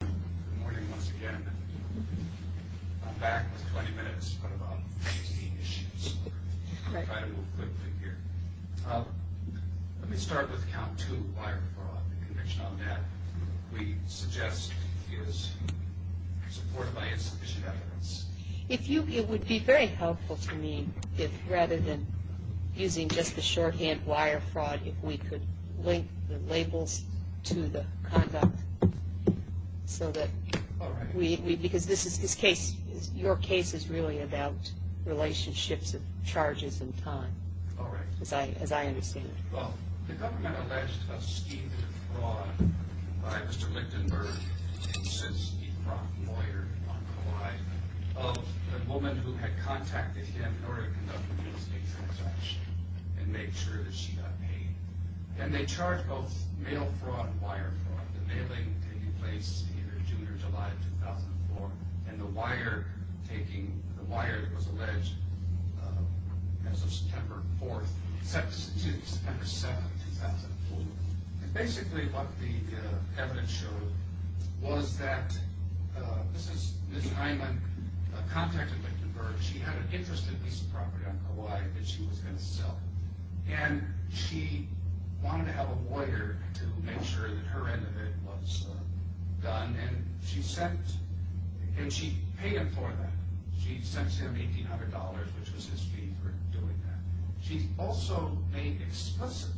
Good morning once again. I'm back with 20 minutes on about 18 issues. I'll try to move quickly here. Let me start with count 2, wire fraud. In connection with that, we suggest we use support by insufficient evidence. It would be very helpful to me if, rather than using just the shorthand wire fraud, if we could link the labels to the conduct. Because your case is really about relationships of charges and time, as I understand it. Well, the government alleged a scheme of fraud by Mr. Lichtenberg, who sits the front lawyer on Kauai, of the woman who had contacted him in order to conduct a real estate transaction and make sure that she got paid. And they charged both mail fraud and wire fraud. The mailing taking place in either June or July of 2004, and the wire taking, the wire that was alleged as of September 4th, September 7th, 2004. And basically what the evidence showed was that Mrs. Nijman contacted Lichtenberg. She had an interest in this property on Kauai that she was going to sell. And she wanted to have a lawyer to make sure that her end of it was done. And she sent, and she paid him for that. She sent him $1,800, which was his fee for doing that. She also made explicit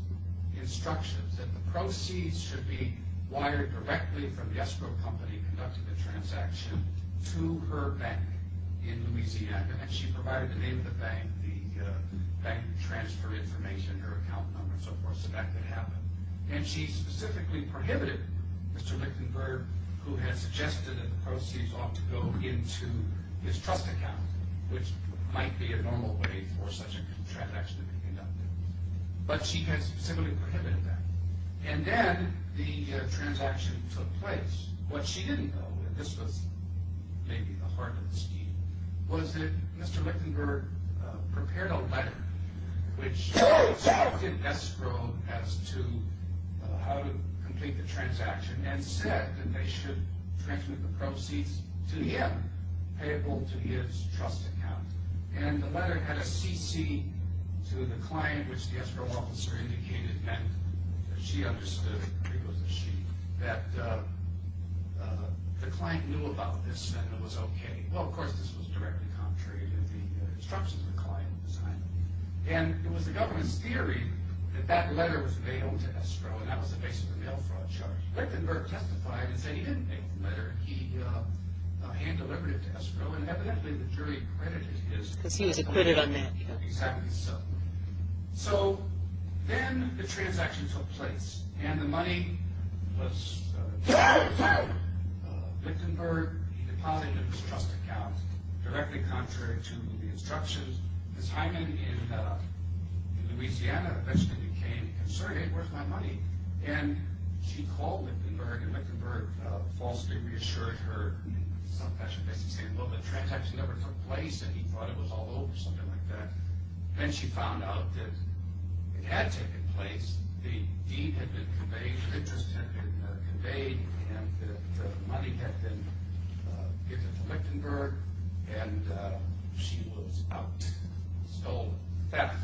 instructions that the proceeds should be wired directly from the escrow company conducting the transaction to her bank in Louisiana. And she provided the name of the bank, the bank transfer information, her account number, and so forth, so that could happen. And she specifically prohibited Mr. Lichtenberg, who had suggested that the proceeds ought to go into his trust account, which might be a normal way for such a transaction to be conducted. But she had specifically prohibited that. And then the transaction took place. What she didn't know, and this was maybe the heart of the scheme, was that Mr. Lichtenberg prepared a letter which instructed escrow as to how to complete the transaction and said that they should transmit the proceeds to him, payable to his trust account. And the letter had a CC to the client, which the escrow officer indicated meant that she understood that the client knew about this and it was okay. Well, of course, this was directly contrary to the instructions of the client. And it was the government's theory that that letter was mailed to escrow, and that was the base of the mail fraud charge. Lichtenberg testified and said he didn't make the letter, he hand-delivered it to escrow, and evidently the jury credited his... Because he was acquitted on that. Exactly so. So then the transaction took place, and the money was Lichtenberg. He deposited it in his trust account. Directly contrary to the instructions, Ms. Hyman in Louisiana eventually became concerned, where's my money? And she called Lichtenberg, and Lichtenberg falsely reassured her in some fashion, basically saying, well, the transaction never took place, and he thought it was all over, something like that. Then she found out that it had taken place, the deed had been conveyed, the interest had been conveyed, and the money had been given to Lichtenberg, and she was out. So theft.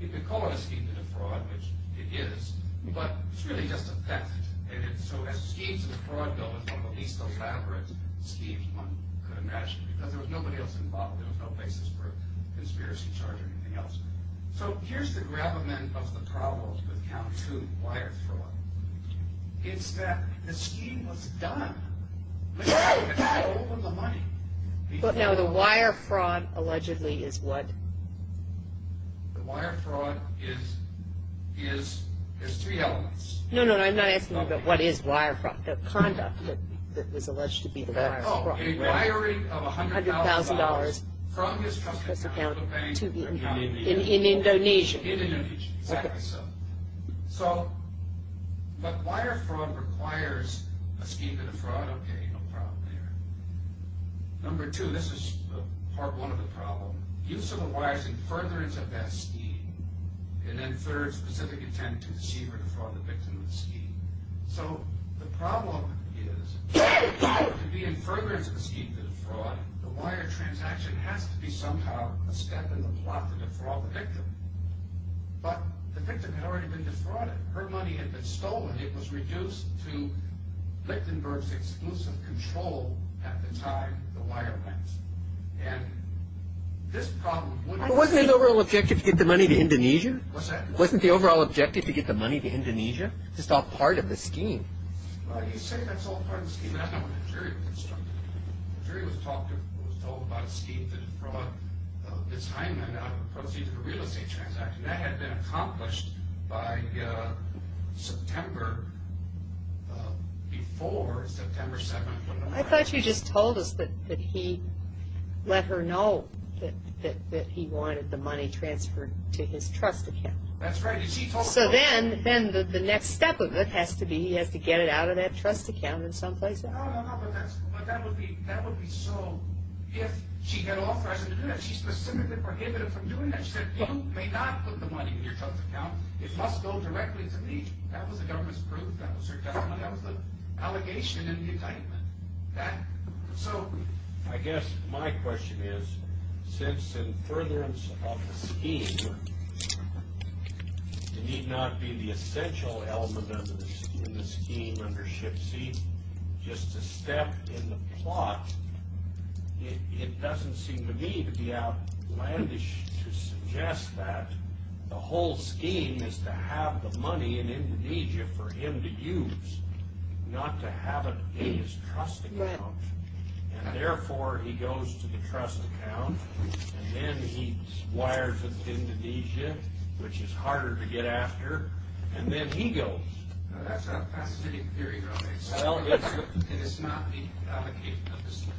You could call it a scheme to defraud, which it is, but it's really just a theft. And so as schemes of fraud go, at least the fabric schemes one could imagine, because there was nobody else involved. There was no basis for a conspiracy charge or anything else. So here's the gravamen of the problem with Count Two Wire Fraud. It's that the scheme was done. It's all over the money. But now the wire fraud allegedly is what? The wire fraud is three elements. No, no, I'm not asking you about what is wire fraud, the conduct that was alleged to be the wire fraud. Oh, a wiring of $100,000 from his trust account in Indonesia. In Indonesia, exactly so. But wire fraud requires a scheme to defraud, okay, no problem there. Number two, this is part one of the problem. Use of the wires in furtherance of that scheme, and then third, specific intent to deceive or defraud the victim of the scheme. So the problem is, to be in furtherance of the scheme to defraud, the wire transaction has to be somehow a step in the plot to defraud the victim. But the victim had already been defrauded. Her money had been stolen. It was reduced to Lichtenberg's exclusive control at the time the wire went. And this problem wouldn't be... But wasn't his overall objective to get the money to Indonesia? Wasn't the overall objective to get the money to Indonesia? It's all part of the scheme. Well, you say that's all part of the scheme. That's not what the jury was talking about. The jury was told about a scheme to defraud Ms. Heinemann out of the proceeds of a real estate transaction. That had been accomplished by September, before September 7th. I thought you just told us that he let her know that he wanted the money transferred to his trust account. That's right. So then the next step of it has to be he has to get it out of that trust account in some place? No, no, no. But that would be so if she had authorized him to do that. She specifically prohibited him from doing that. She said he may not put the money in your trust account. It must go directly to me. That was the government's proof. That was her testimony. That was the allegation in the indictment. So I guess my question is, since in furtherance of the scheme, it need not be the essential element of the scheme under ship C, just a step in the plot, it doesn't seem to me to be outlandish to suggest that the whole scheme is to have the money in Indonesia for him to use, not to have it in his trust account, and therefore he goes to the trust account, and then he wires it to Indonesia, which is harder to get after, and then he goes. That's not a pacifistic theory. Well, it's not the allegation of the scheme.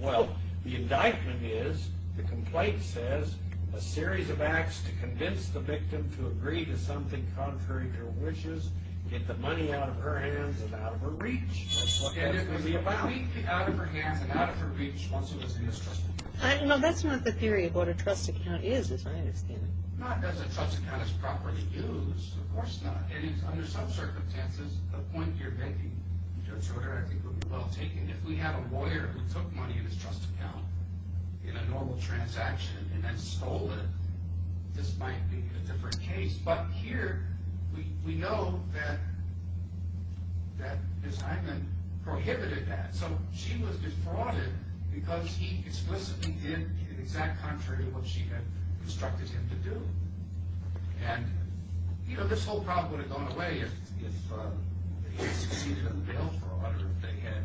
Well, the indictment is the complaint says a series of acts to convince the victim to agree to something contrary to her wishes, get the money out of her hands and out of her reach. That's what that's going to be about. Get the money out of her hands and out of her reach once it was in his trust account. No, that's not the theory of what a trust account is, as I understand it. Not that a trust account is properly used. Of course not. It is under some circumstances. The point you're making, Judge Schroeder, I think would be well taken. If we have a lawyer who took money in his trust account in a normal transaction and then stole it, this might be a different case. But here, we know that Ms. Hyman prohibited that. So she was defrauded because he explicitly did the exact contrary of what she had instructed him to do. And, you know, this whole problem would have gone away if he had succeeded in the bail fraud or if they had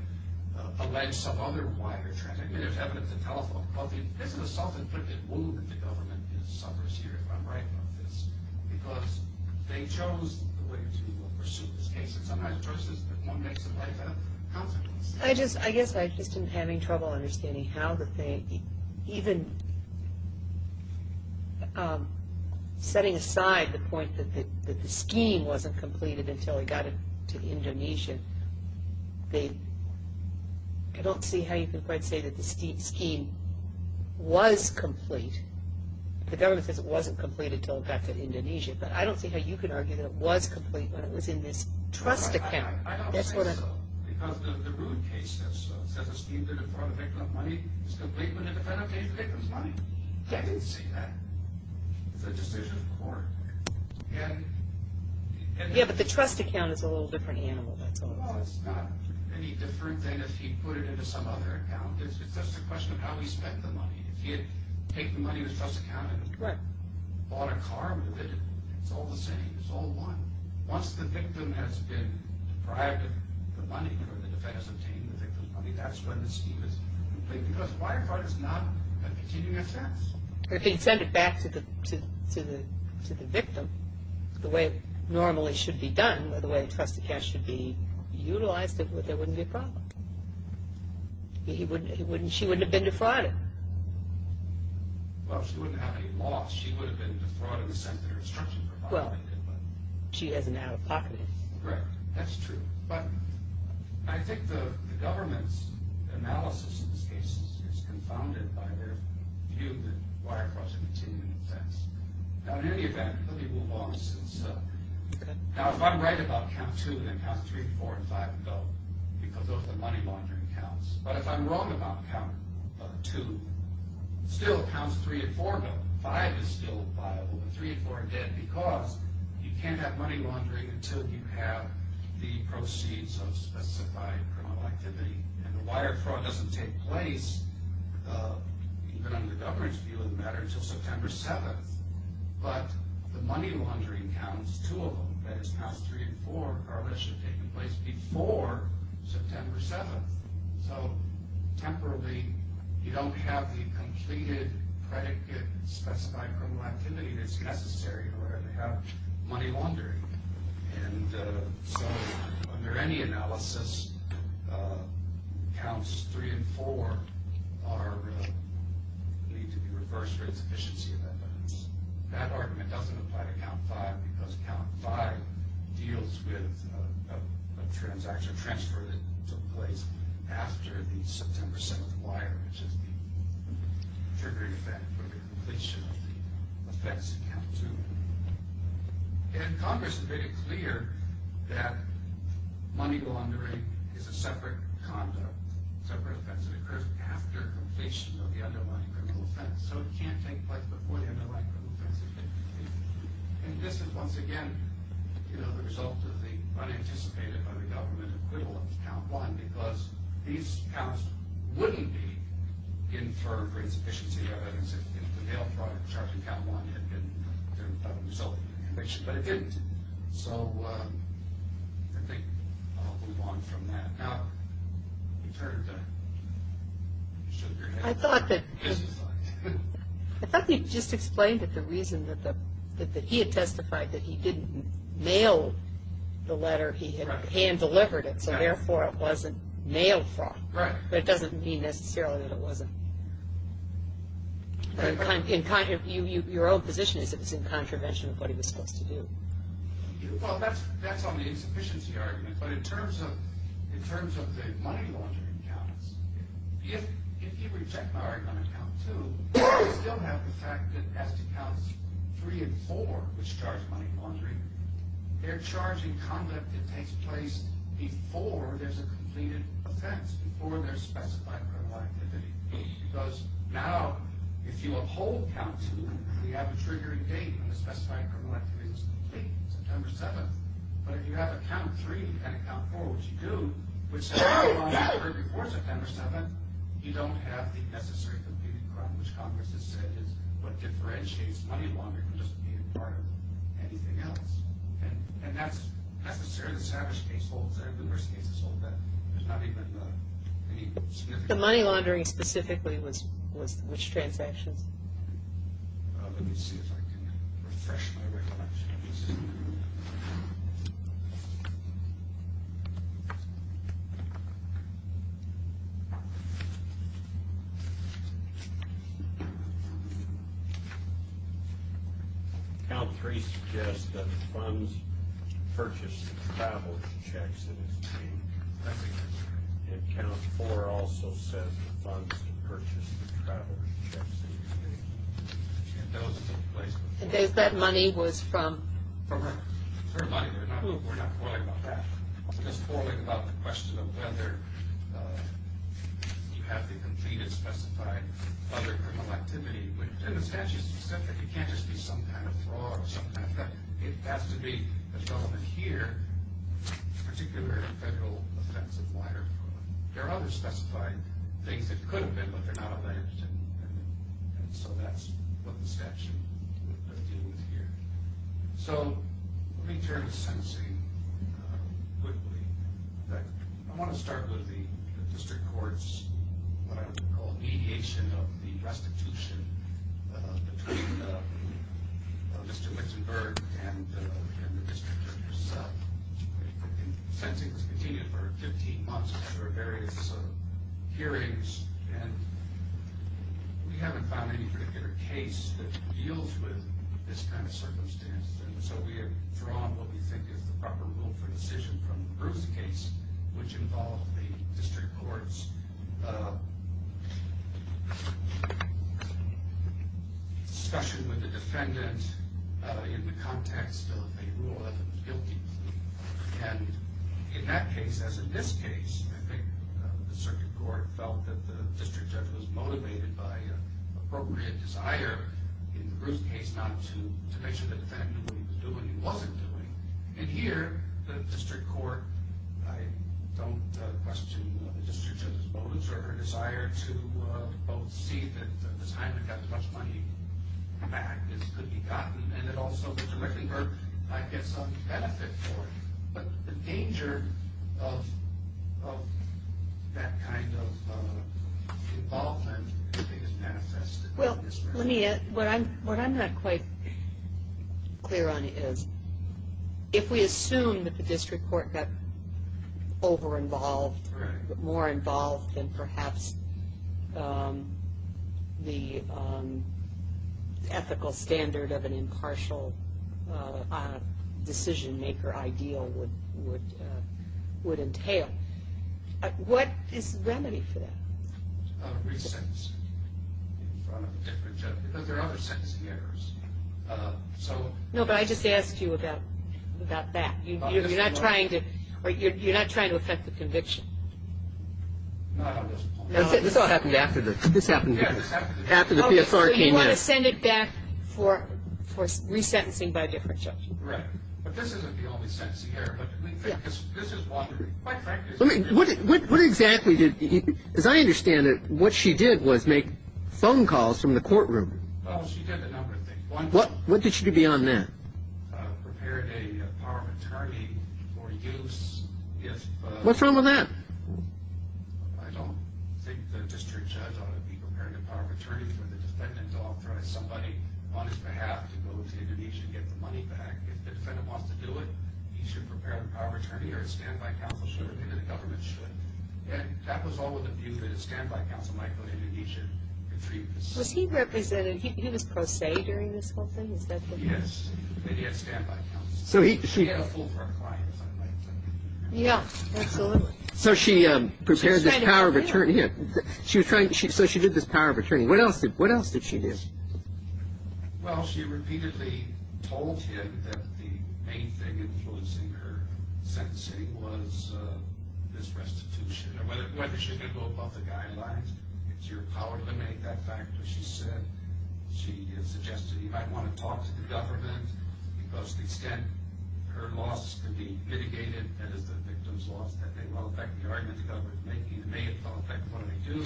alleged some other wire transaction. I mean, there's evidence of telephone calls. This is a self-inflicted wound the government suffers here if I'm right about this because they chose the way to pursue this case. And sometimes versus if one makes it like that, consequences. I guess I'm just having trouble understanding how the thing, even setting aside the point that the scheme wasn't completed until he got to Indonesia, I don't see how you can quite say that the scheme was complete. The government says it wasn't completed until he got to Indonesia, but I don't see how you can argue that it was complete when it was in this trust account. I don't think so. That's what I. Because of the Rood case, that's a scheme to defraud a victim of money. It's complete when a defendant pays the victim's money. I didn't see that. It's a decision of court. Yeah, but the trust account is a little different animal. Well, it's not any different than if he put it into some other account. It's just a question of how he spent the money. If he had taken the money in his trust account and bought a car with it, it's all the same. It's all one. Once the victim has been deprived of the money or the defense has obtained the victim's money, that's when the scheme is complete because the wire fraud is not a continuing offense. If he had sent it back to the victim the way it normally should be done, the way the trust account should be utilized, there wouldn't be a problem. She wouldn't have been defrauded. Well, she wouldn't have been lost. She would have been defrauded in the sense that her instruction provided it. Well, she has an out-of-pocket. Correct. That's true. But I think the government's analysis of this case is confounded by their view that wire fraud is a continuing offense. Now, in any event, let me move on. Now, if I'm right about Count 2, then Count 3, 4, and 5 go because those are the money laundering counts. But if I'm wrong about Count 2, still Count 3 and 4 go. 5 is still viable, but 3 and 4 are dead because you can't have money laundering until you have the proceeds of specified criminal activity. And the wire fraud doesn't take place, even under the government's view, doesn't matter until September 7th. But the money laundering counts, two of them, that is, Counts 3 and 4, probably should have taken place before September 7th. So, temporarily, you don't have the completed predicate specified criminal activity that's necessary where they have money laundering. And so, under any analysis, Counts 3 and 4 are believed to be reversed for insufficiency of evidence. That argument doesn't apply to Count 5 because Count 5 deals with a transaction transfer that took place after the September 7th wire, which is the triggering event for the completion of the offense in Count 2. And Congress has made it clear that money laundering is a separate conduct, separate offense that occurs after completion of the underlying criminal offense. So it can't take place before the underlying criminal offense. And this is, once again, the result of the unanticipated by the government equivalent of Count 1 because these counts wouldn't be inferred for insufficiency of evidence if the mail fraud charged in Count 1 had been done without consulting. But it didn't. So, I think I'll move on from that. Now, you've heard the sugar head. I thought that he just explained that the reason that he had testified that he didn't mail the letter, he had hand-delivered it. So, therefore, it wasn't mail fraud. Right. But it doesn't mean necessarily that it wasn't. Your own position is that it's in contravention of what he was supposed to do. Well, that's on the insufficiency argument. But in terms of the money laundering counts, if you reject my argument on Count 2, you still have the fact that Estacounts 3 and 4, which charge money laundering, they're charging conduct that takes place before there's a completed offense, before there's specified criminal activity. Because now, if you uphold Count 2, you have a triggering date when the specified criminal activity is complete, September 7th. But if you have a Count 3 and a Count 4, which you do, which says money laundering occurred before September 7th, you don't have the necessary completed crime, which Congress has said is what differentiates money laundering from just being a part of anything else. And that's necessarily the savage case holds. There are numerous cases hold that there's not even any significant... The money laundering specifically was which transactions? Let me see if I can refresh my recollection. Count 3 suggests that the funds purchased to travel to Jackson is being collected. And Count 4 also says the funds purchased to travel to Jackson is being collected. And those took place before September 7th. That money was from? From her. Her money. We're not quarreling about that. We're just quarreling about the question of whether you have the completed, specified other criminal activity. And the statute is specific. It can't just be some kind of fraud or some kind of theft. It has to be a gentleman here, particular federal offense of wire fraud. There are other specified things that could have been, but they're not alleged. And so that's what the statute is dealing with here. So let me turn to sentencing quickly. I want to start with the district court's what I would call mediation of the restitution between Mr. Wittenberg and the district judge. Sentencing has continued for 15 months after various hearings, and we haven't found any particular case that deals with this kind of circumstance. And so we have drawn what we think is the proper rule for decision from the Bruce case, which involved the district court's discussion with the defendant in the context of a rule of guilty. And in that case, as in this case, I think the circuit court felt that the district judge was motivated by appropriate desire in the Bruce case not to make sure that the defendant knew what he was doing and wasn't doing. And here, the district court, I don't question the district judge's motives or her desire to both see that the time to get as much money back as could be gotten, and it also, Mr. Wittenberg, might get some benefit for it. But the danger of that kind of involvement, I think, is manifest. Well, let me add, what I'm not quite clear on is if we assume that the district court got over-involved, more involved than perhaps the ethical standard of an impartial decision-maker ideal would entail, what is the remedy for that? Well, the remedy is to give the district court a chance to re-sentence in front of the district judge because there are other sentencing errors. No, but I just asked you about that. You're not trying to affect the conviction? This all happened after the PSR came in. Okay, so you want to send it back for resentencing by a different judge. Right, but this isn't the only sentencing error. What exactly did, as I understand it, what she did was make phone calls from the courtroom. Oh, she did a number of things. What did she do beyond that? Prepare a power of attorney for use. What's wrong with that? I don't think the district judge ought to be preparing a power of attorney for the defendant to authorize somebody on his behalf to go to Indonesia and get the money back. If the defendant wants to do it, he should prepare a power of attorney, or a standby counsel should do it, and the government should. And that was all with a view that a standby counsel might go to Indonesia and treat this. Was he represented? He was pro se during this whole thing? Is that correct? Yes, and he had standby counsel. He had a full-front client, if I might say. Yeah, absolutely. So she prepared this power of attorney. Yeah, so she did this power of attorney. What else did she do? Well, she repeatedly told him that the main thing influencing her sentencing was this restitution, or whether she could go above the guidelines. It's your power to make that fact, as she said. She suggested he might want to talk to the government, because the extent her loss could be mitigated, and as the victim's loss, that may well affect the argument the government is making. It may well affect what they do.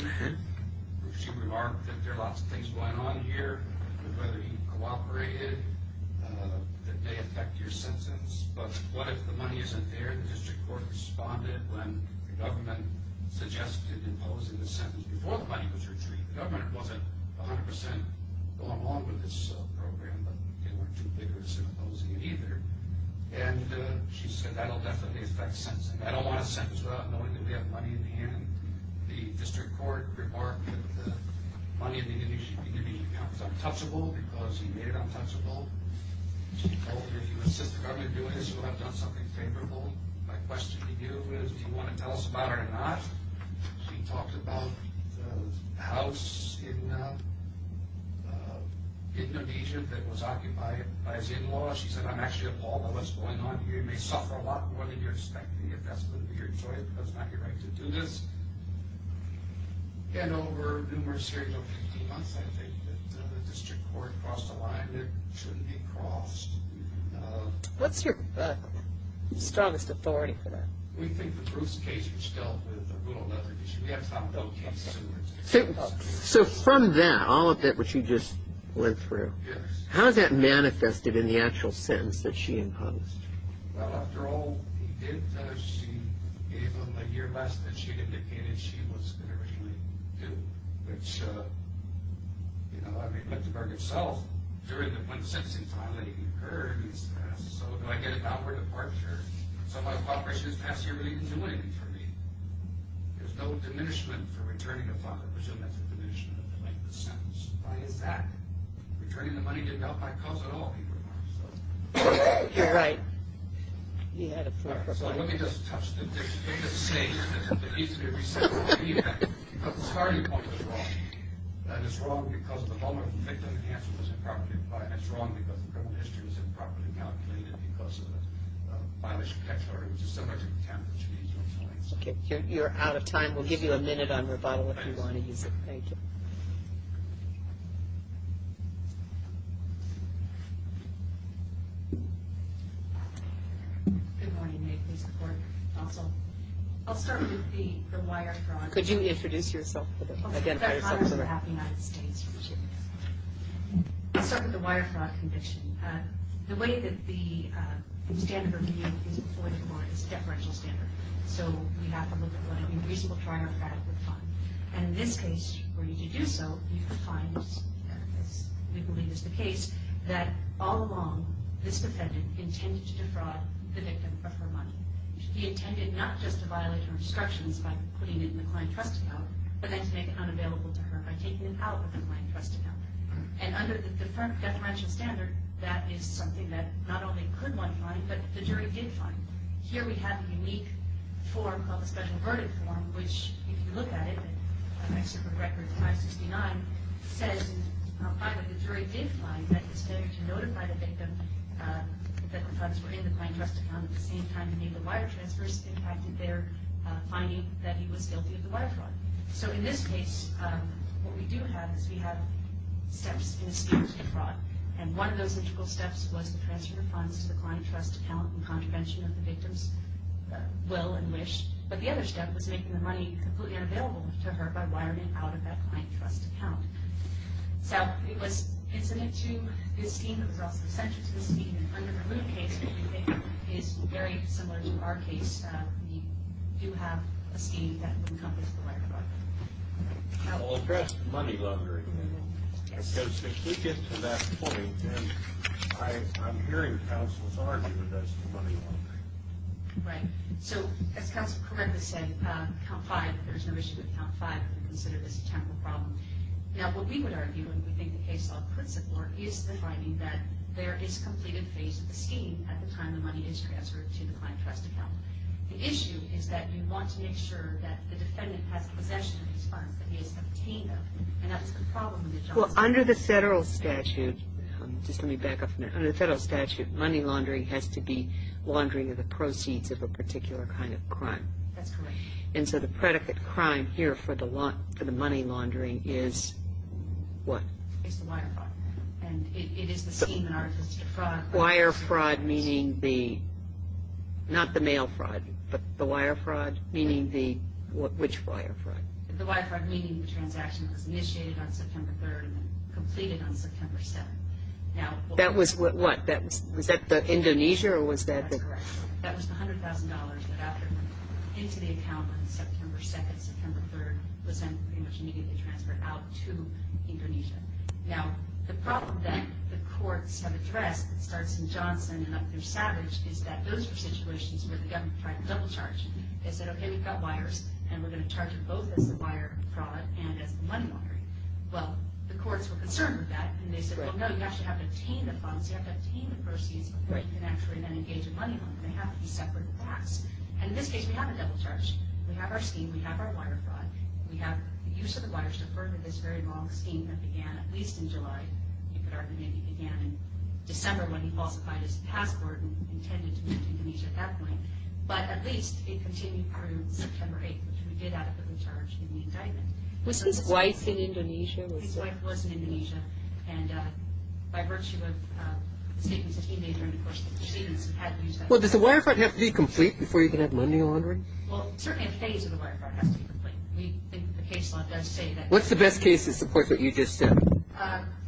She remarked that there are lots of things going on here, whether he cooperated, that may affect your sentence. But what if the money isn't there? The district court responded when the government suggested imposing the sentence before the money was retrieved. The government wasn't 100% going along with this program, but they weren't too vigorous in opposing it either. And she said that will definitely affect sentencing. I don't want a sentence without knowing that we have money in hand. The district court remarked that the money in the Indonesian account was untouchable because he made it untouchable. She told him, if you assist the government in doing this, you'll have done something favorable. My question to you is, do you want to tell us about it or not? She talked about the house in Indonesia that was occupied by his in-laws. She said, I'm actually appalled by what's going on here. You may suffer a lot more than you're expecting, but it's not your right to do this. And over numerous years, over 15 months, I think, the district court crossed a line that shouldn't be crossed. What's your strongest authority for that? We think the Bruce case, which dealt with a brutal leather case, we have found no case similar to this. So from that, all of that which you just went through, how is that manifested in the actual sentence that she imposed? Well, after all, she gave him a year less than she had indicated she was going to originally do. Which, you know, I mean, Lichtenberg himself, when the sentencing finally occurred, he said, so do I get a downward departure? So my cooperation is passed here, but he didn't do anything for me. There's no diminishment for returning the money. I presume that's a diminishment of the length of the sentence. Why is that? Returning the money didn't help my cause at all, he remarked. You're right. He had a point. So let me just touch the biggest stage that needs to be reset. Because the starting point was wrong. And it's wrong because the moment the victim and the answer was improperly applied. And it's wrong because the criminal history was improperly calculated because of the violation of catch order, which is so much of the time that she needs to explain. Okay, you're out of time. We'll give you a minute on rebuttal if you want to use it. Thank you. Good morning. May it please the Court. Counsel. I'll start with the wire fraud. Could you introduce yourself? Identify yourself. I'll start with the wire fraud conviction. The way that the standard review is employed in law is a deferential standard. So you have to look at what I mean. Reasonable, triumphatic, or fun. And in this case, for you to do so, you find this. We believe it's the case that all along, this defendant intended to defraud the victim of her money. He intended not just to violate her instructions by putting it in the client trust account, but then to make it unavailable to her by taking it out of the client trust account. And under the deferential standard, that is something that not only could one find, but the jury did find. Here we have a unique form called the special verdict form, which, if you look at it, excerpt from record 569, says that the jury did find that the standard to notify the victim that the funds were in the client trust account at the same time he made the wire transfers impacted their finding that he was guilty of the wire fraud. So in this case, what we do have is we have steps in the scheme to defraud. And one of those integral steps was the transfer of funds to the client trust account in contravention of the victim's will and wish. But the other step was making the money completely unavailable to her by wiring it out of that client trust account. So it was incident to this scheme. It was also essential to this scheme. And under the Moot case, what we think is very similar to our case, we do have a scheme that would encompass the wire fraud. I'll address the money laundering. Because if we get to that point, then I'm hearing counsels argue that that's the money laundering. Right. So as counsel correctly said, Count 5, there's no issue with Count 5. We consider this a temporal problem. Now, what we would argue, and we think the case law principle, is the finding that there is a completed phase of the scheme at the time the money is transferred to the client trust account. The issue is that you want to make sure that the defendant has possession of these funds, that he has obtained them. And that's the problem in the Johnson case. Well, under the federal statute, just let me back up a minute. Under the federal statute, money laundering has to be laundering of the proceeds of a particular kind of crime. That's correct. And so the predicate crime here for the money laundering is what? It's the wire fraud. And it is the scheme in our case to fraud. Wire fraud, meaning the, not the mail fraud, but the wire fraud, meaning the, which wire fraud? The wire fraud meaning the transaction was initiated on September 3rd and then completed on September 7th. That was what? Was that Indonesia or was that the? That's correct. That was the $100,000 that got put into the account on September 2nd, September 3rd, was then pretty much immediately transferred out to Indonesia. Now, the problem that the courts have addressed, that starts in Johnson and up through Savage, is that those are situations where the government tried to double charge. They said, okay, we've got wires, and we're going to charge you both as the wire fraud and as the money laundering. Well, the courts were concerned with that, and they said, well, no, you actually have to obtain the funds. You have to obtain the proceeds before you can actually then engage in money laundering. They have to be separate acts. And in this case, we haven't double charged. We have our scheme. We have our wire fraud. We have the use of the wires to further this very long scheme that began at least in July, you could argue maybe began in December when he falsified his passport and intended to move to Indonesia at that point. But at least it continued through September 8th, which we did adequately charge in the indictment. Was his wife in Indonesia? His wife was in Indonesia. And by virtue of the statements that he made during the course of the proceedings, he had to use that money. Well, does the wire fraud have to be complete before you can have money laundering? Well, certainly a phase of the wire fraud has to be complete. We think the case law does say that. What's the best case that supports what you just said?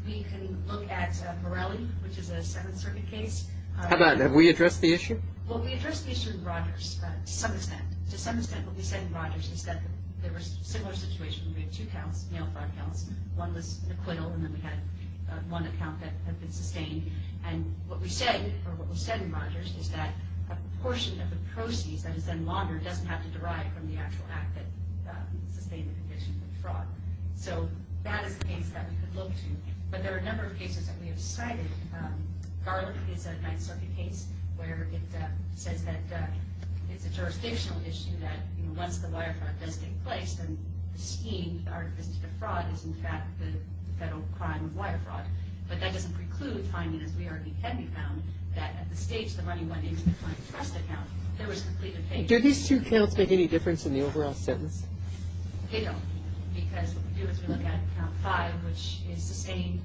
We can look at Morelli, which is a Seventh Circuit case. How about that? Have we addressed the issue? Well, we addressed the issue in Rogers to some extent. To some extent, what we said in Rogers is that there was a similar situation where we had two counts, mail fraud counts. One was an acquittal, and then we had one account that had been sustained. And what we said, or what was said in Rogers, is that a portion of the proceeds that is then laundered doesn't have to derive from the actual act that sustained the condition of the fraud. So that is the case that we could look to. But there are a number of cases that we have cited. Garlick is a Ninth Circuit case where it says that it's a jurisdictional issue that once the wire fraud does take place, then the scheme or the fraud is, in fact, the federal crime of wire fraud. But that doesn't preclude finding, as we already have found, that at the stage the money went into the client's trust account, there was complete evasion. Do these two counts make any difference in the overall sentence? They don't. Because what we do is we look at count five, which is sustained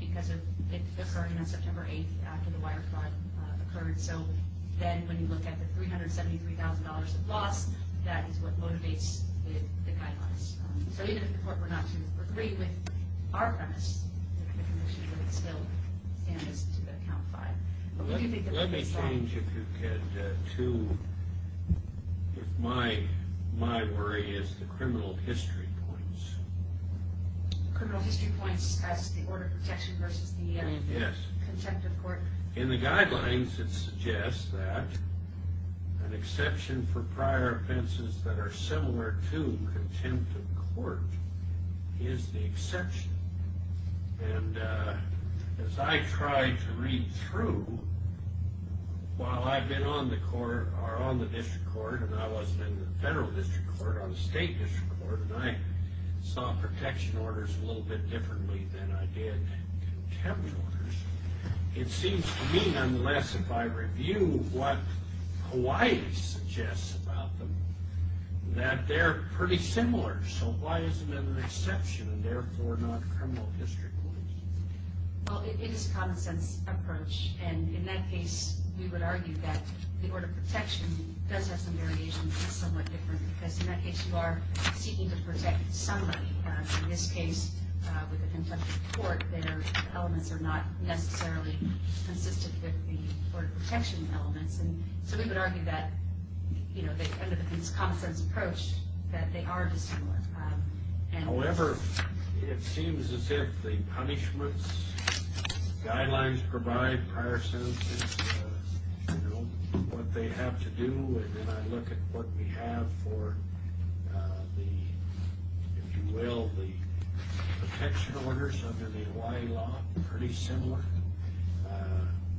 because of it occurring on September 8th after the wire fraud occurred. So then when you look at the $373,000 of loss, that is what motivates the guidelines. So even if the court were not to agree with our premise, the condition would still stand as to the count five. Let me change, if you could, to if my worry is the criminal history points. Criminal history points as the order of protection versus the contempt of court? In the guidelines it suggests that an exception for prior offenses that are similar to contempt of court is the exception. And as I tried to read through, while I've been on the district court and I wasn't in the federal district court, on the state district court, and I saw protection orders a little bit differently than I did contempt orders, it seems to me, nonetheless, if I review what Hawaii suggests about them, that they're pretty similar. So why isn't that an exception and, therefore, not criminal history points? Well, it is a common-sense approach. And in that case, we would argue that the order of protection does have some variations and is somewhat different because, in that case, you are seeking to protect somebody. In this case, with the contempt of court, their elements are not necessarily consistent with the order of protection elements. So we would argue that they end up with this common-sense approach that they are dissimilar. However, it seems as if the punishments guidelines provide prior sentences, what they have to do, and then I look at what we have for, if you will, the protection orders under the Hawaii law, pretty similar.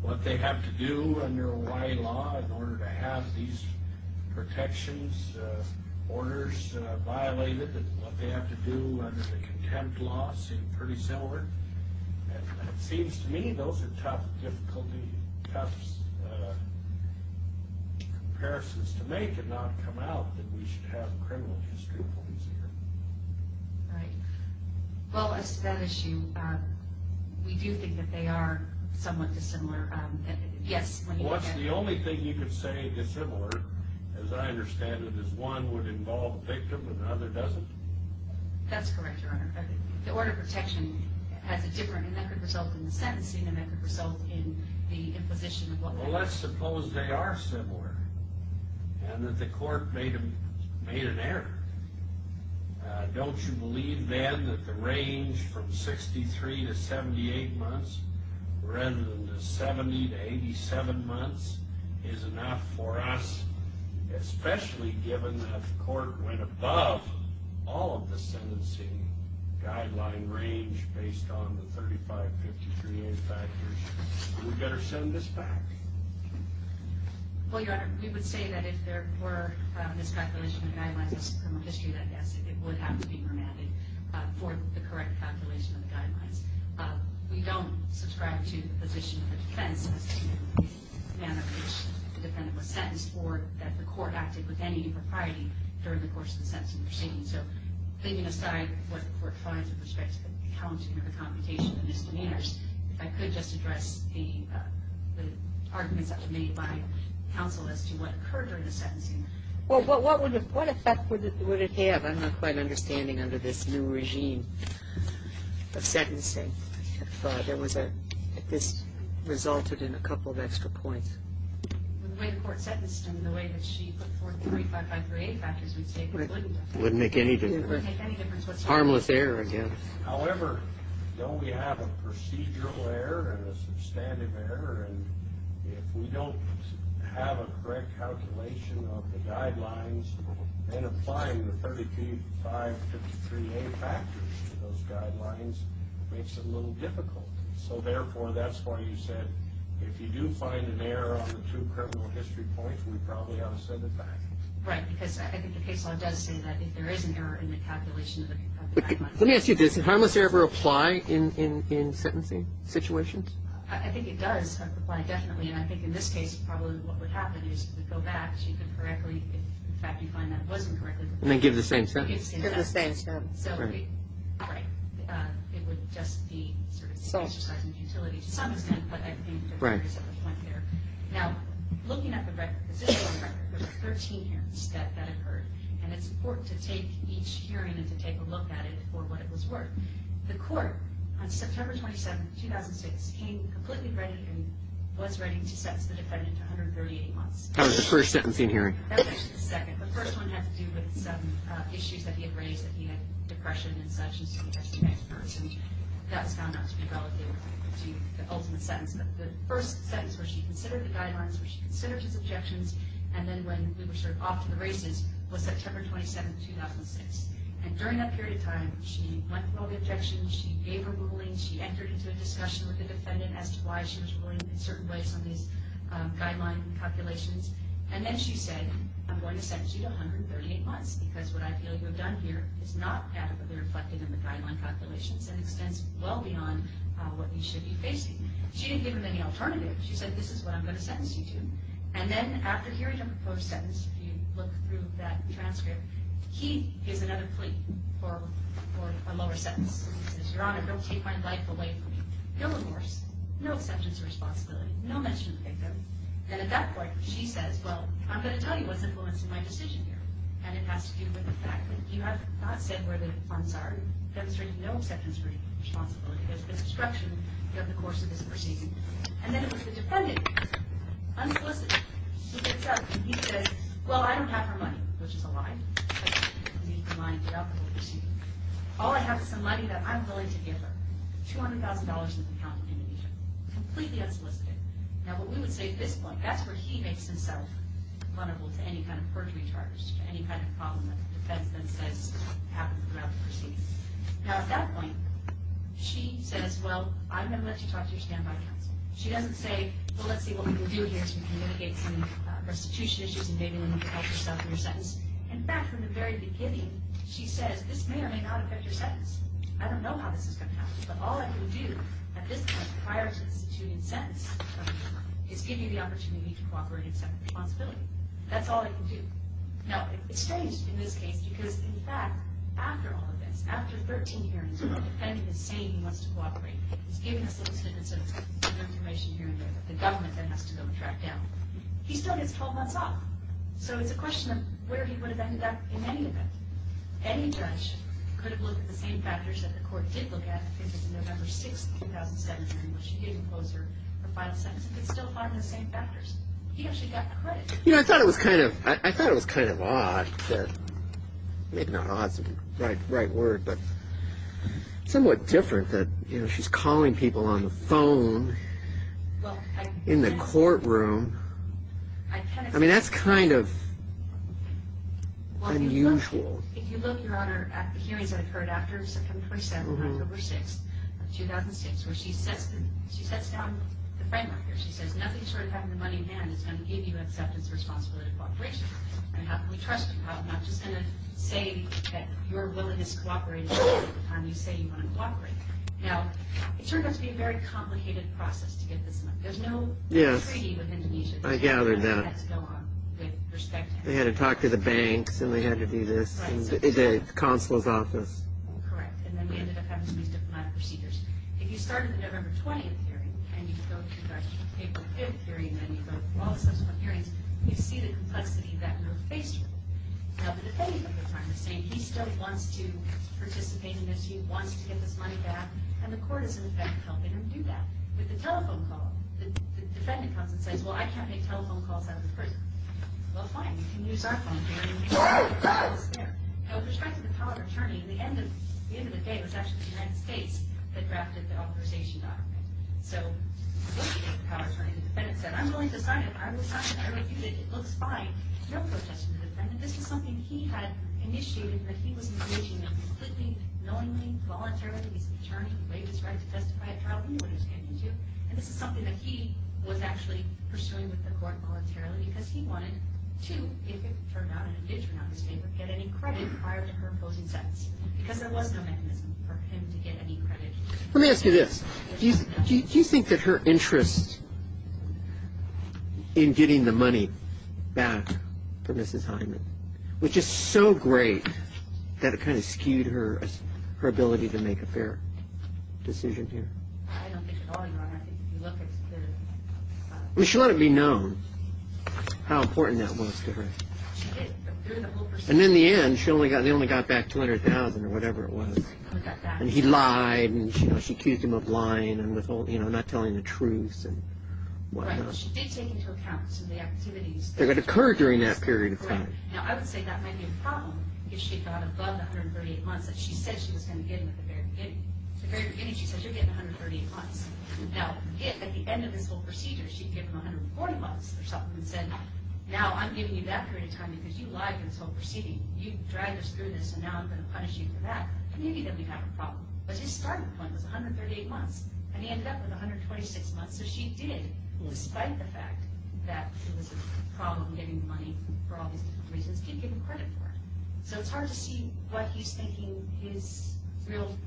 What they have to do under Hawaii law in order to have these protections orders violated and what they have to do under the contempt law seem pretty similar. And it seems to me those are tough difficulties, tough comparisons to make and not come out that we should have criminal history points here. Right. Well, as to that issue, we do think that they are somewhat dissimilar. Yes. Well, what's the only thing you could say is similar, as I understand it, is one would involve the victim and the other doesn't? That's correct, Your Honor. The order of protection has a different, and that could result in the sentencing, and that could result in the imposition of what they are. Well, let's suppose they are similar and that the court made an error. Don't you believe then that the range from 63 to 78 months rather than the 70 to 87 months is enough for us, especially given that the court went above all of the sentencing guideline range based on the 3553A factors? We better send this back. Well, Your Honor, we would say that if there were a miscalculation in the guidelines of criminal history, then yes, it would have to be remanded for the correct calculation of the guidelines. We don't subscribe to the position of the defense as to the manner in which the defendant was sentenced or that the court acted with any impropriety during the course of the sentencing proceedings. So leaving aside what the court finds with respect to the counting or the computation of misdemeanors, if I could just address the arguments that were made by counsel as to what occurred during the sentencing. Well, what effect would it have? I'm not quite understanding under this new regime of sentencing if this resulted in a couple of extra points. The way the court sentenced him, the way that she put forth the 3553A factors, we'd say it wouldn't make any difference. Harmless error, yes. However, don't we have a procedural error and a substantive error? And if we don't have a correct calculation of the guidelines, then applying the 3553A factors to those guidelines makes it a little difficult. So therefore, that's why you said if you do find an error on the two criminal history points, we probably ought to send it back. Right, because I think the case law does say that if there is an error in the calculation of the guidelines. Let me ask you this. Does harmless error apply in sentencing situations? I think it does apply, definitely. And I think in this case, probably what would happen is if we go back, she could correctly, if in fact you find that it wasn't correctly, And then give the same sentence. Give the same sentence. Right. It would just be sort of an exercise in utility to some extent, but I think there were errors at the point there. Now, looking at the positional record, there were 13 hearings that occurred. And it's important to take each hearing and to take a look at it for what it was worth. The court, on September 27, 2006, came completely ready and was ready to sentence the defendant to 138 months. How was the first sentencing hearing? That was actually the second. The first one had to do with some issues that he had raised, that he had depression and such, and so he had to be next in line. And that's found not to be valid. They were going to do the ultimate sentence. But the first sentence where she considered the guidelines, where she considered his objections, and then when we were sort of off to the races was September 27, 2006. And during that period of time, she went through all the objections. She gave her ruling. She entered into a discussion with the defendant as to why she was ruling in certain ways on these guideline calculations. And then she said, I'm going to sentence you to 138 months because what I feel you have done here is not adequately reflected in the guideline calculations and extends well beyond what you should be facing. She didn't give him any alternatives. She said, this is what I'm going to sentence you to. And then after hearing a proposed sentence, if you look through that transcript, he gives another plea for a lower sentence. He says, Your Honor, don't take my life away from me. No divorce, no acceptance of responsibility, no mention of the victim. And at that point, she says, well, I'm going to tell you what's influencing my decision here. And it has to do with the fact that you have not said where the funds are, demonstrating no acceptance of responsibility. There's obstruction of the course of this proceeding. And then it was the defendant, unsolicited, who gets up and he says, well, I don't have her money, which is a lie. I don't need the money to get out of the proceeding. All I have is some money that I'm willing to give her, $200,000 in an account in Indonesia, completely unsolicited. Now, what we would say at this point, that's where he makes himself vulnerable to any kind of perjury charge, to any kind of problem that the defensement says happens throughout the proceeding. Now, at that point, she says, well, I'm going to let you talk to your standby counsel. She doesn't say, well, let's see what we can do here to mitigate some restitution issues and maybe we can help you settle your sentence. In fact, from the very beginning, she says, this may or may not affect your sentence. I don't know how this is going to happen, but all I can do at this point, prior to instituting a sentence, is give you the opportunity to cooperate and accept responsibility. That's all I can do. No, it's strange in this case because, in fact, after all of this, after 13 hearings where the defendant is saying he wants to cooperate, he's given us a little bit of information here and there, but the government then has to go and track down. He still gets 12 months off. So it's a question of where he would have ended up in any event. Any judge could have looked at the same factors that the court did look at in the November 6, 2007 hearing where she didn't close her final sentence and could still find the same factors. He actually got credit. You know, I thought it was kind of odd, maybe not odd is the right word, but somewhat different that she's calling people on the phone in the courtroom. I mean, that's kind of unusual. If you look, Your Honor, at the hearings that occurred after September 27, October 6, 2006, where she sets down the framework here. She says nothing short of having the money in hand is going to give you acceptance, responsibility, and cooperation. We trust you. I'm not just going to say that you're willing to cooperate and you say you want to cooperate. Now, it turned out to be a very complicated process to get this money. There's no treaty with Indonesia. I gathered that. They had to go on with respect. They had to talk to the banks and they had to do this in the consular's office. Correct. And then we ended up having to use diplomatic procedures. If you start at the November 20th hearing and you go to the April 5th hearing and then you go to all the subsequent hearings, you see the complexity that we're faced with. Now, the defendant at the time is saying he still wants to participate in this, he wants to get this money back, and the court is, in effect, helping him do that. With the telephone call, the defendant comes and says, well, I can't make telephone calls out of the prison. Well, fine. You can use our phone here. Now, with respect to the power of attorney, at the end of the day, it was actually the United States that drafted the authorization document. So, with respect to the power of attorney, the defendant said, I'm willing to sign it. I will sign it. I refuse it. It looks fine. No protest from the defendant. This was something he had initiated and that he was engaging in completely, knowingly, voluntarily. He's an attorney. He waived his right to testify at trial. He knew what he was getting into, and this is something that he was actually pursuing with the court voluntarily because he wanted to, if it turned out in his favor, get any credit prior to her opposing sentence because there was no mechanism for him to get any credit. Let me ask you this. Do you think that her interest in getting the money back for Mrs. Hyman was just so great that it kind of skewed her ability to make a fair decision here? I don't think at all, Your Honor. If you look at the – I mean, she let it be known how important that was to her. She did. And in the end, she only got back $200,000 or whatever it was. And he lied, and she accused him of lying and not telling the truth. Right. She did take into account some of the activities. That occurred during that period of time. Now, I would say that might be a problem if she got above the 138 months that she said she was going to get at the very beginning. At the very beginning, she said, You're getting 138 months. Now, at the end of this whole procedure, she'd give him 140 months or something and said, Now, I'm giving you that period of time because you lied in this whole proceeding. You dragged us through this, and now I'm going to punish you for that. Maybe then we'd have a problem. But his starting point was 138 months, and he ended up with 126 months. So she did, despite the fact that it was a problem getting the money for all these different reasons, give him credit for it. So it's hard to see what he's thinking his real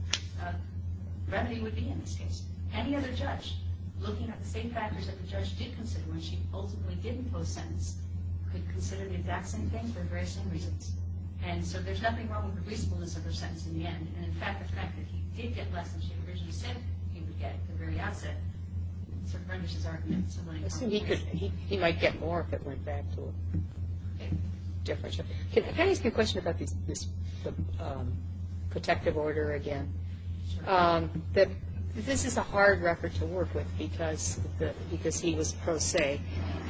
remedy would be in this case. Any other judge, looking at the same factors that the judge did consider when she ultimately didn't post-sentence, could consider the exact same thing for the very same reasons. And so there's nothing wrong with the reasonableness of her sentence in the end. And, in fact, the fact that he did get less than she originally said he would get at the very outset sort of furnished his argument. I assume he might get more if it went back to a differential. Can I ask you a question about this protective order again? This is a hard record to work with because he was pro se,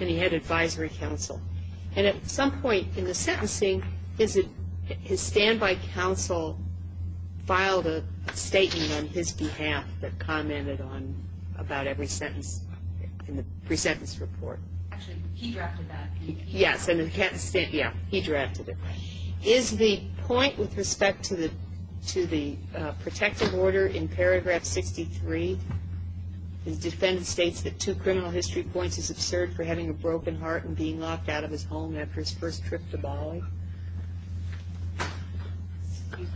and he had advisory counsel. And at some point in the sentencing, his standby counsel filed a statement on his behalf that commented on about every sentence in the pre-sentence report. Actually, he drafted that. Yes, and he drafted it. Is the point with respect to the protective order in paragraph 63, the defendant states that two criminal history points is absurd for having a broken heart and being locked out of his home after his first trip to Bali? Excuse me.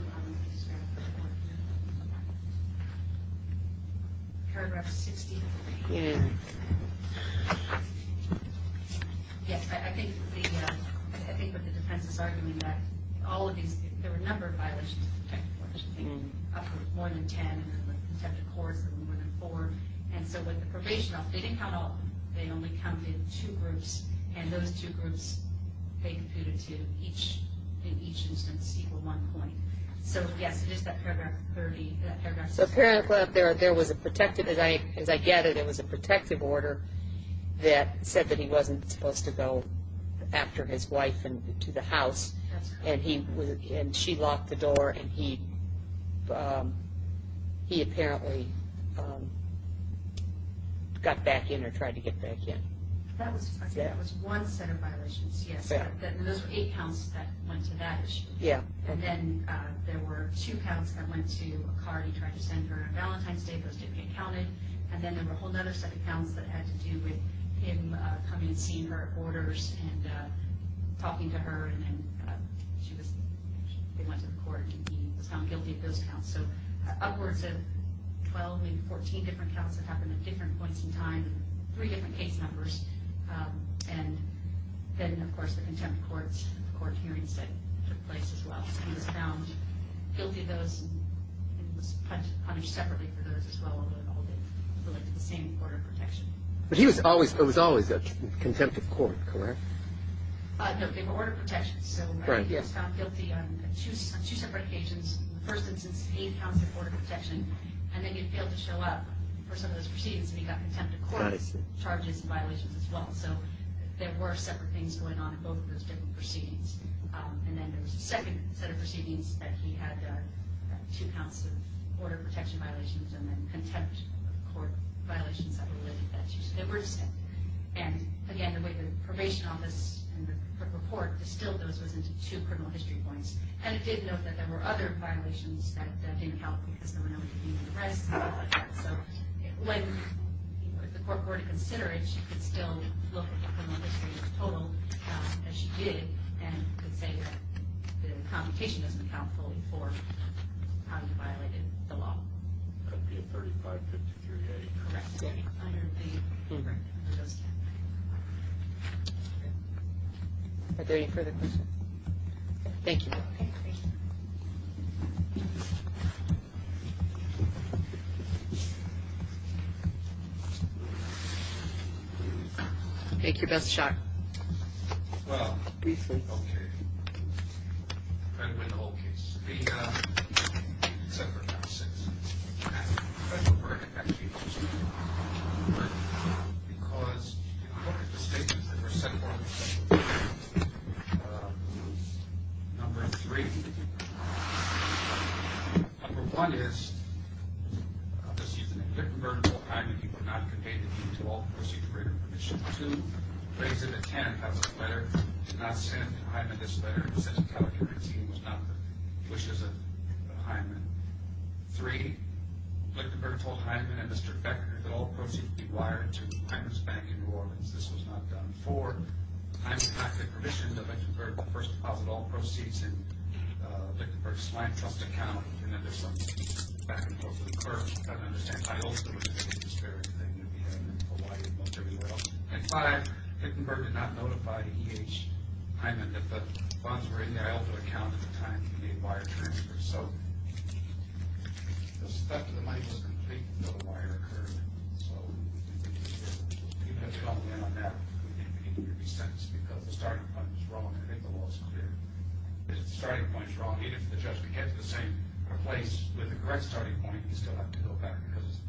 Paragraph 63. Yes, I think what the defense is arguing that all of these, there were a number of violations of the protective order, I think, up from one to ten, and then the protective courts, and then one to four. And so with the probation office, they didn't count all of them. They only counted two groups, and those two groups, they computed to each instance equal one point. So, yes, it is that paragraph 30, that paragraph 63. Apparently, there was a protective, as I gather, there was a protective order that said that he wasn't supposed to go after his wife to the house. And she locked the door, and he apparently got back in or tried to get back in. That was one set of violations, yes. And those were eight counts that went to that issue. Yes. And then there were two counts that went to a card he tried to send her on Valentine's Day. Those didn't get counted. And then there were a whole other set of counts that had to do with him coming and seeing her orders and talking to her, and then she was, they went to the court, and he was found guilty of those counts. So upwards of 12, maybe 14 different counts that happened at different points in time, three different case numbers. And then, of course, the contempt courts, the court hearings that took place as well. He was found guilty of those, and he was punished separately for those as well, although they all relate to the same order of protection. But he was always, it was always a contempt of court, correct? No, they were order of protections. So he was found guilty on two separate occasions. In the first instance, eight counts of order of protection. And then he failed to show up for some of those proceedings, and he got contempt of court charges and violations as well. So there were separate things going on in both of those different proceedings. And then there was a second set of proceedings that he had two counts of order of protection violations and then contempt of court violations that were related to that. So they were distinct. And, again, the way the probation office and the court distilled those was into two criminal history points. And it did note that there were other violations that didn't count because there were no human rights. So when the court were to consider it, she could still look at the criminal history as total, as she did, and could say that the computation doesn't count fully for how he violated the law. It could be a 3553A. Correct. Are there any further questions? Thank you. Okay, great. Thank you. Make your best shot. Well, okay. I'm going to win the whole case, except for count six. And I'm going to break it back to you. But because I don't have the statements that were set forth, number three. Number one is, this evening, Lichtenberg told Heinemann he would not convey the deed to all the proceeds of greater proceeds. Two, the plaintiff at hand has a letter. He did not send Heinemann this letter. He said the California regime was not the wishes of Heinemann. Three, Lichtenberg told Heinemann and Mr. Becker that all proceeds would be wired to Heinemann's bank in New Orleans. This was not done. Four, Heinemann did not get permission to Lichtenberg to first deposit all proceeds in Lichtenberg's land trust account. And then there's some back and forth with the clerk. I don't understand. I also don't understand. It's a disparaging thing to be doing in Hawaii and most everywhere else. And five, Lichtenberg did not notify E.H. Heinemann that the funds were in the Iowa account at the time he made wire transfers. So, the stuff of the money was complete. No wire occurred. So, we have to go in on that. I think we need to be sentenced because the starting point was wrong. I think the law is clear. If the starting point is wrong, even if the judge would get to the same place with the correct starting point, you still have to go back because it's a procedural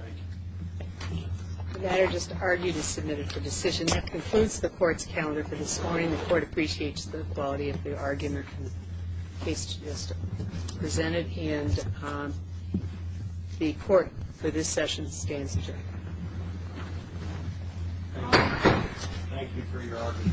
error. Thank you. The matter just argued is submitted for decision. That concludes the Court's calendar for this morning. The Court appreciates the quality of the argument and the case you just presented. And the Court for this session stands adjourned. Thank you. Thank you for your argument. Thank you. Thank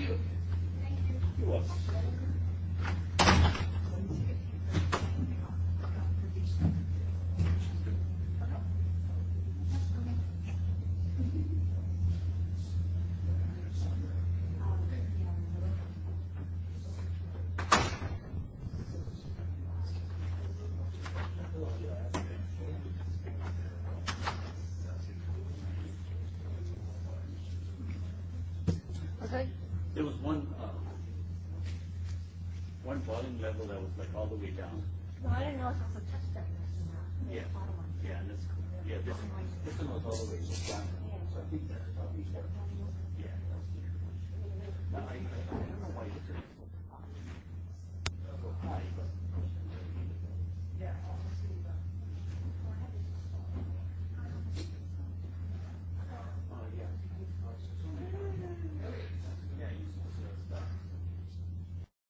you. Thank you. You're welcome. Okay. There was one falling level that was all the way down. I didn't know if it was a touch-down. Yeah. Yeah. Yeah. Yeah. Yeah. Yeah. Yeah. Yeah. Yeah.